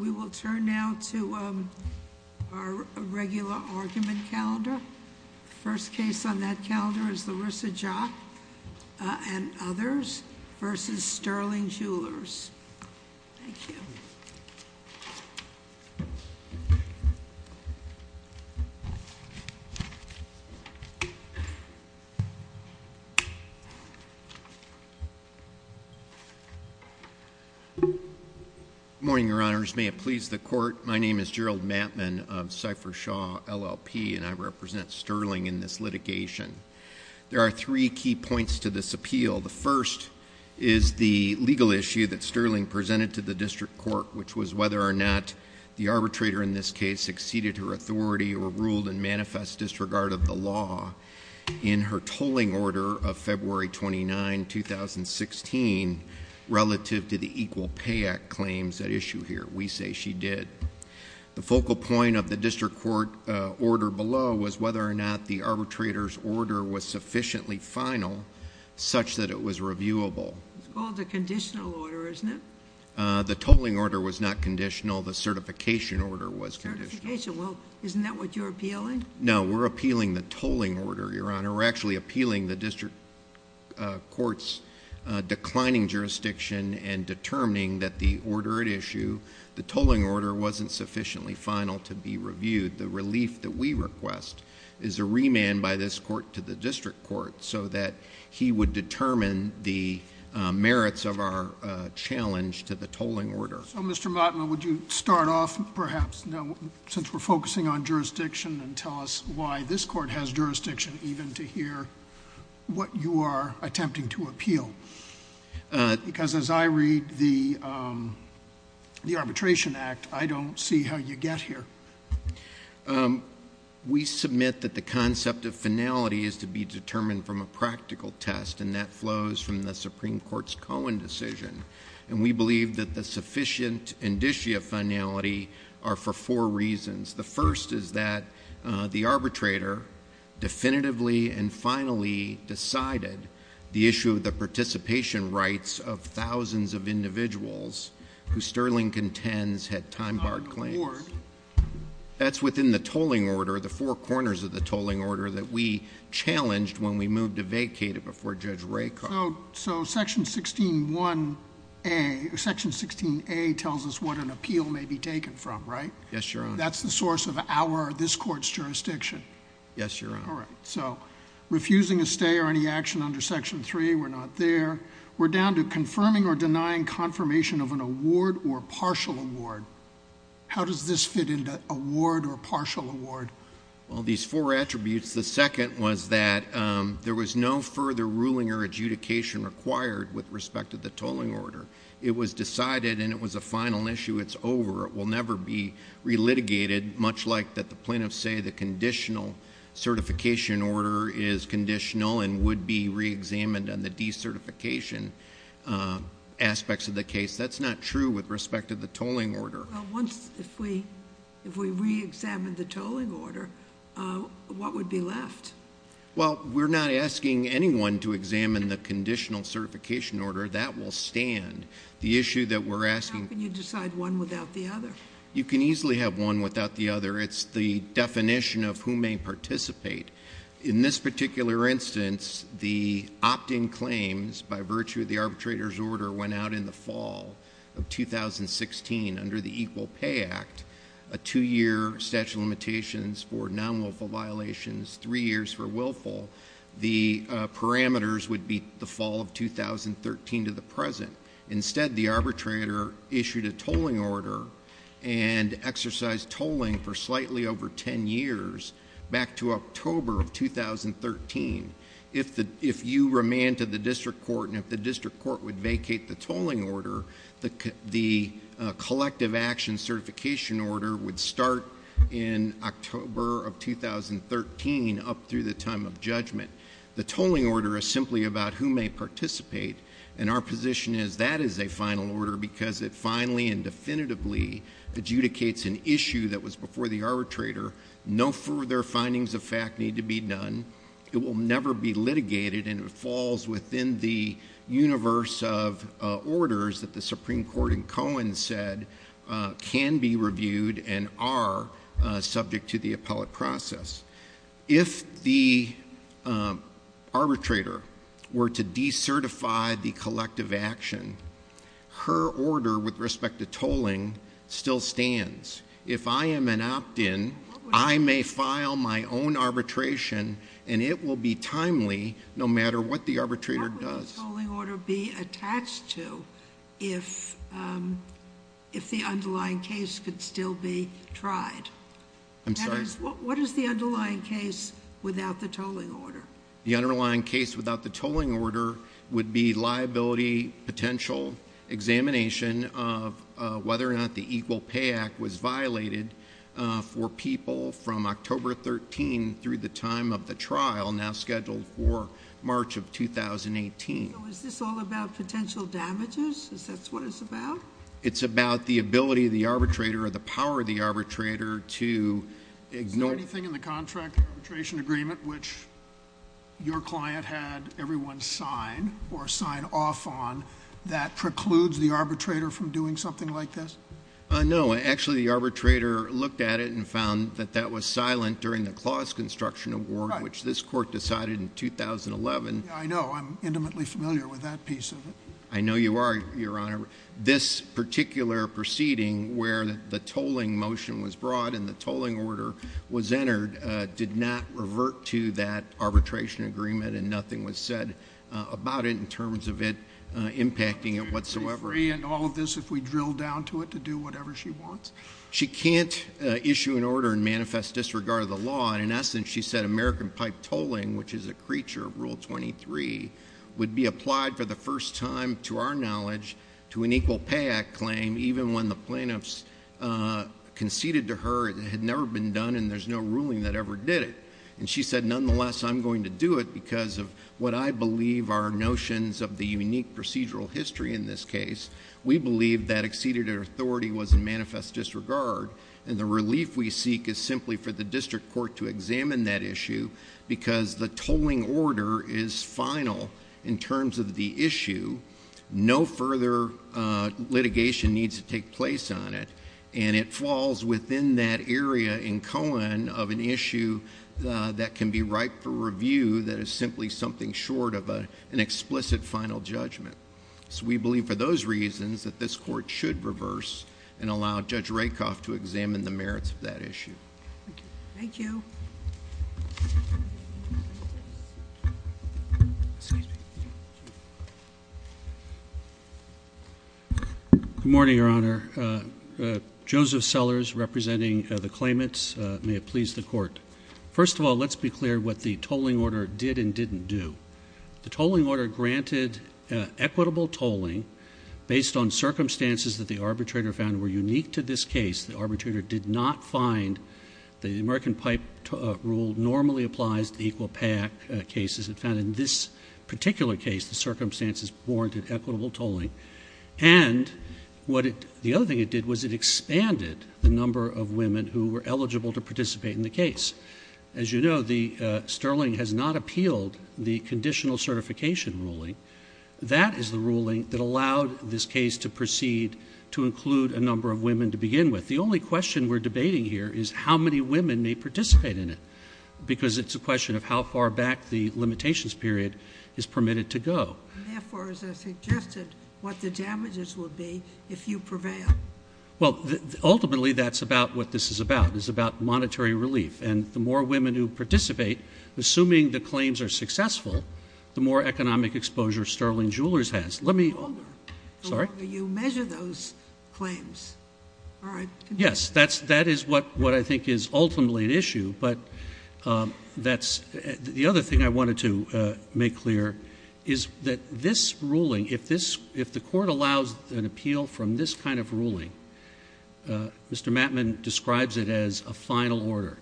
We will turn now to our regular argument calendar. First case on that calendar is Larissa Jock and others versus Sterling Jewelers. Good morning, Your Honors. May it please the Court, my name is Gerald Mattman of Cipher Shaw LLP and I represent Sterling in this litigation. There are three key points to this appeal. The first is the legal issue that Sterling presented to the District Court, which was whether or not the arbitrator in this case exceeded her authority or ruled and manifest disregard of the law in her tolling order of February 29, 2016, relative to the Equal Pay Act claims at issue here. We say she did. The focal point of the District Court order below was whether or not the arbitrator's order was sufficiently final such that it was reviewable. It's called a conditional order, isn't it? The tolling order was not conditional, the certification order was conditional. Certification, well, isn't that what you're appealing? No, we're appealing the tolling order, Your Honor. We're actually appealing the District Court's declining jurisdiction and determining that the order at issue, the tolling order wasn't sufficiently final to be reviewed. The relief that we request is a remand by this Court to the District Court so that he would determine the merits of our challenge to the tolling order. So, Mr. Mattman, would you start off, perhaps, since we're focusing on jurisdiction and tell us why this Court has jurisdiction even to hear what you are attempting to appeal? Because as I read the Arbitration Act, I don't see how you get here. We submit that the concept of finality is to be determined from a practical test and that flows from the Supreme Court's Cohen decision. And we believe that the sufficient indicia finality are for four reasons. The first is that the arbitrator definitively and finally decided the issue of the participation rights of thousands of individuals who Sterling contends had time-barred claims. Not in the Court. That's within the tolling order, the four corners of the tolling order that we challenged when we moved to vacate it before Judge Raycock. So Section 16A tells us what an appeal may be taken from, right? Yes, Your Honor. That's the source of our, this Court's, jurisdiction? Yes, Your Honor. All right. So refusing a stay or any action under Section 3, we're not there. We're down to confirming or denying confirmation of an award or partial award. How does this fit into award or partial award? Well, these four attributes. The second was that there was no further ruling or adjudication required with respect to the tolling order. It was decided and it was a final issue. It's over. It will never be re-litigated, much like that the plaintiffs say the conditional certification order is conditional and would be re-examined on the decertification aspects of the case. That's not true with respect to the tolling order. Well, once, if we re-examine the tolling order, what would be left? Well, we're not asking anyone to examine the conditional certification order. That will stand. The issue that we're asking— How can you decide one without the other? You can easily have one without the other. It's the definition of who may participate. In this particular instance, the opt-in claims by virtue of the arbitrator's order went out in the fall of 2016 under the Equal Pay Act, a two-year statute of limitations for non-wilful violations, three years for willful. The parameters would be the fall of 2013 to the present. Instead, the arbitrator issued a tolling order and exercised tolling for slightly over ten years back to October of 2013. If you remanded the district court and if the district court would vacate the tolling order, the collective action certification order would start in October of 2013 up through the time of judgment. The tolling order is simply about who may participate, and our position is that is a final order because it finally and definitively adjudicates an issue that was before the arbitrator. No further findings of fact need to be done. It will never be litigated, and it falls within the universe of orders that the Supreme Court in Cohen said can be reviewed and are subject to the appellate process. If the arbitrator were to decertify the collective action, her order with respect to tolling still stands. If I am an opt-in, I may file my own arbitration, and it will be timely no matter what the arbitrator What would the tolling order be attached to if the underlying case could still be tried? What is the underlying case without the tolling order? The underlying case without the tolling order would be liability potential examination of whether or not the Equal Pay Act was violated for people from October 13 through the time of the trial now scheduled for March of 2018. Is this all about potential damages? Is that what it's about? It's about the ability of the arbitrator or the power of the arbitrator to ignore Is there anything in the contract arbitration agreement which your client had everyone sign off on that precludes the arbitrator from doing something like this? No, actually the arbitrator looked at it and found that that was silent during the Clause Construction Award which this court decided in 2011. I know, I'm intimately familiar with that piece of it. I know you are, Your Honor. This particular proceeding where the tolling motion was brought and the tolling order was entered did not revert to that arbitration agreement and nothing was said about it in terms of it impacting it whatsoever. Would she be free in all of this if we drilled down to it to do whatever she wants? She can't issue an order and manifest disregard of the law and in essence she said American pipe tolling, which is a creature of Rule 23, would be applied for the first time to our knowledge to an Equal Pay Act claim even when the plaintiffs conceded to her it had never been done and there's no ruling that ever did it. She said, nonetheless, I'm going to do it because of what I believe are notions of the unique procedural history in this case. We believe that exceeded authority was in manifest disregard and the relief we seek is simply for the district court to examine that issue because the tolling order is final in terms of the issue. No further litigation needs to take place on it and it falls within that area in Cohen of an issue that can be right for review that is simply something short of an explicit final judgment. We believe for those reasons that this court should reverse and allow Judge Rakoff to examine the merits of that issue. Thank you. Good morning, Your Honor. Joseph Sellers representing the claimants. May it please the court. First of all, let's be clear what the tolling order did and didn't do. The tolling order granted equitable tolling based on circumstances that the arbitrator found were unique to this case. The arbitrator did not find the American Pipe Rule normally applies to Equal Pay Act cases. It found in this particular case the circumstances warranted equitable tolling. And the other thing it did was it expanded the number of women who were eligible to participate in the case. As you know, Sterling has not appealed the conditional certification ruling. That is the ruling that allowed this case to proceed to include a number of women to begin with. The only question we're debating here is how many women may participate in it because it's a question of how far back the limitations period is permitted to go. And therefore, as I suggested, what the damages will be if you prevail. Well, ultimately, that's about what this is about. It's about monetary relief. And the more women who participate, assuming the claims are successful, the more economic exposure Sterling Jewelers has. The longer you measure those claims. Yes, that is what I think is ultimately an issue. But the other thing I wanted to make clear is that this ruling, if the court allows an appeal from this kind of ruling, Mr. Mattman describes it as a final order.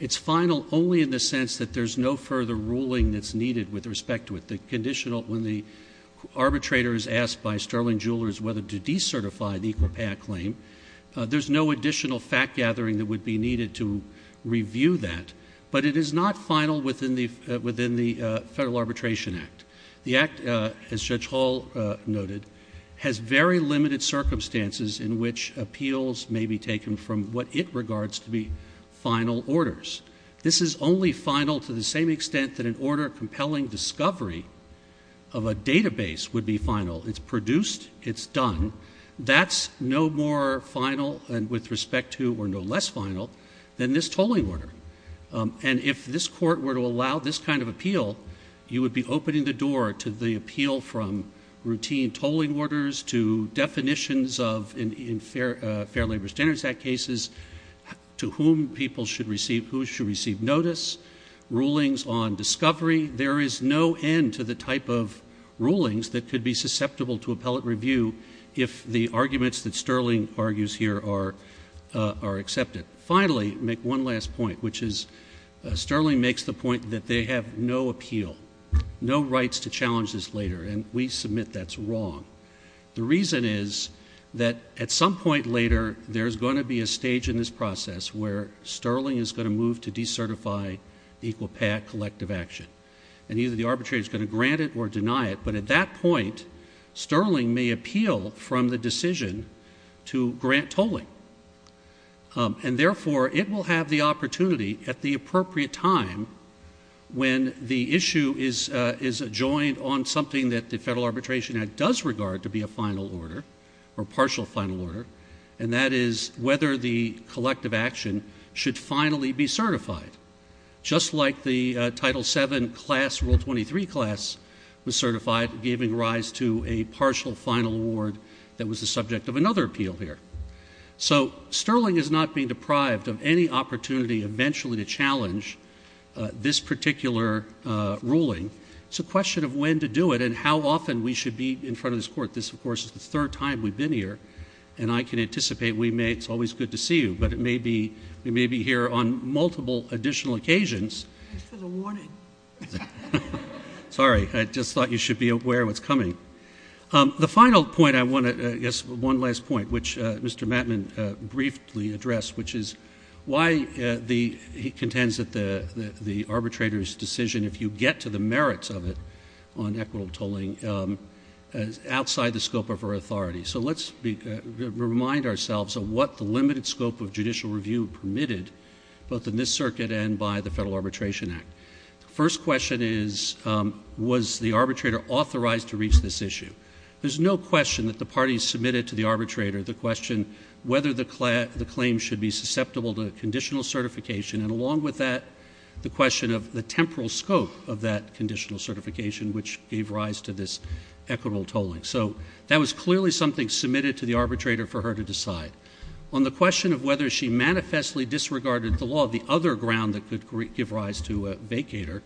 It's final only in the sense that there's no further ruling that's needed with respect to it. When the arbitrator is asked by Sterling Jewelers whether to decertify the Equal Pay Act claim, there's no additional fact gathering that would be needed to review that. But it is not final within the Federal Arbitration Act. The act, as Judge Hall noted, has very limited circumstances in which appeals may be taken from what it regards to be final orders. This is only final to the same extent that an order compelling discovery of a database would be final. It's produced. It's done. That's no more final with respect to or no less final than this tolling order. And if this court were to allow this kind of appeal, you would be opening the door to the appeal from routine tolling orders to definitions of, in Fair Labor Standards Act cases, to whom people should receive, who should receive notice, rulings on discovery. There is no end to the type of rulings that could be susceptible to appellate review if the arguments that Sterling argues here are accepted. Finally, make one last point, which is Sterling makes the point that they have no appeal, no rights to challenge this later, and we submit that's wrong. The reason is that at some point later, there's going to be a stage in this process where Sterling is going to move to decertify the Equal Pay Act collective action, and either the arbitrator is going to grant it or deny it, but at that point, Sterling may appeal from the decision to grant tolling. And therefore, it will have the opportunity at the appropriate time when the issue is adjoined on something that the federal arbitration act does regard to be a final order or partial final order, and that is whether the collective action should finally be certified, just like the Title VII class, Rule 23 class was certified, giving rise to a partial final award that was the subject of another appeal here. So Sterling is not being deprived of any opportunity eventually to challenge this particular ruling. It's a question of when to do it and how often we should be in front of this court. This, of course, is the third time we've been here, and I can anticipate it's always good to see you, but we may be here on multiple additional occasions. Just as a warning. Sorry. I just thought you should be aware of what's coming. The final point I want to make is one last point, which Mr. Mattman briefly addressed, which is why he contends that the arbitrator's decision, if you get to the merits of it on equitable tolling, is outside the scope of our authority. So let's remind ourselves of what the limited scope of judicial review permitted, both in this circuit and by the Federal Arbitration Act. The first question is, was the arbitrator authorized to reach this issue? There's no question that the parties submitted to the arbitrator the question whether the claim should be susceptible to conditional certification, and along with that, the question of the temporal scope of that conditional certification, which gave rise to this equitable tolling. So that was clearly something submitted to the arbitrator for her to decide. On the question of whether she manifestly disregarded the law, the other ground that could give rise to a vacator,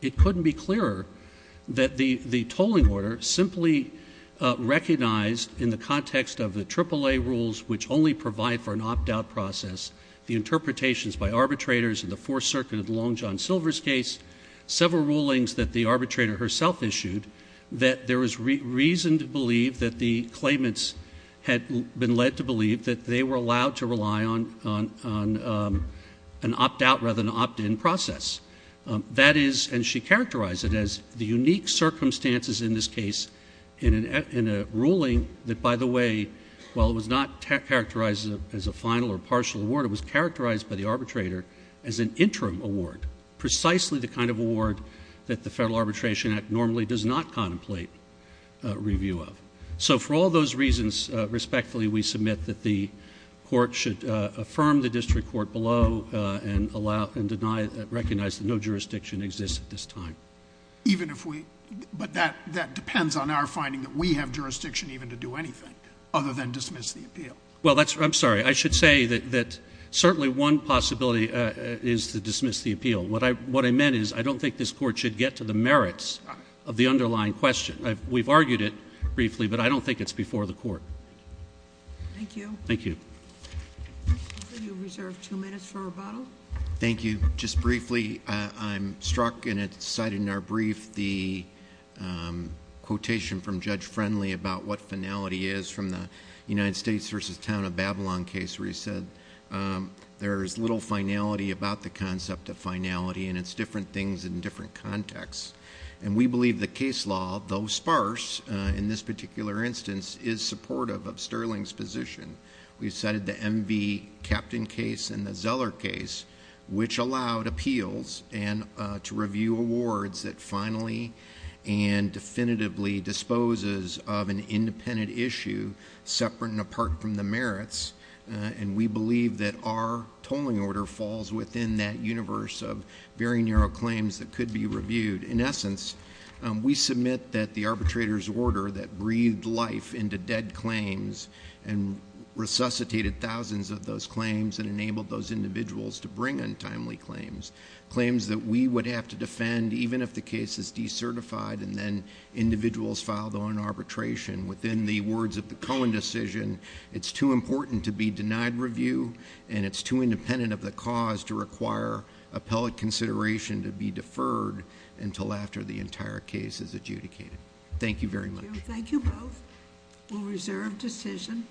it couldn't be clearer that the tolling order simply recognized in the context of the AAA rules, which only provide for an opt-out process, the interpretations by arbitrators in the Fourth Circuit of the Long John Silver's case, several rulings that the arbitrator herself issued, that there was reason to believe that the claimants had been led to believe that they were allowed to rely on an opt-out rather than an opt-in process. That is, and she characterized it as the unique circumstances in this case in a ruling that, by the way, while it was not characterized as a final or partial award, it was characterized by the arbitrator as an interim award, precisely the kind of award that the Federal Arbitration Act normally does not contemplate review of. So for all those reasons, respectfully, we submit that the Court should affirm the district court below and allow and deny, recognize that no jurisdiction exists at this time. Even if we, but that depends on our finding that we have jurisdiction even to do anything other than dismiss the appeal. Well, that's, I'm sorry. I should say that certainly one possibility is to dismiss the appeal. What I meant is I don't think this Court should get to the merits of the underlying question. We've argued it briefly, but I don't think it's before the Court. Thank you. Thank you. I'll let you reserve two minutes for rebuttal. Thank you. Just briefly, I'm struck, and it's cited in our brief, the quotation from Judge Friendly about what finality is from the United States v. Town of Babylon case where he said there is little finality about the concept of finality, and it's different things in different contexts. And we believe the case law, though sparse in this particular instance, is supportive of Sterling's position. We've cited the MV Captain case and the Zeller case, which allowed appeals to review awards that finally and definitively disposes of an independent issue separate and apart from the merits, and we believe that our tolling order falls within that universe of very narrow claims that could be reviewed. In essence, we submit that the arbitrator's order that breathed life into dead claims and resuscitated thousands of those claims and enabled those individuals to bring untimely claims, claims that we would have to defend even if the case is decertified and then individuals filed on arbitration. Within the words of the Cohen decision, it's too important to be denied review, and it's too independent of the cause to require appellate consideration to be deferred until after the entire case is adjudicated. Thank you very much. Thank you both. We'll reserve decision.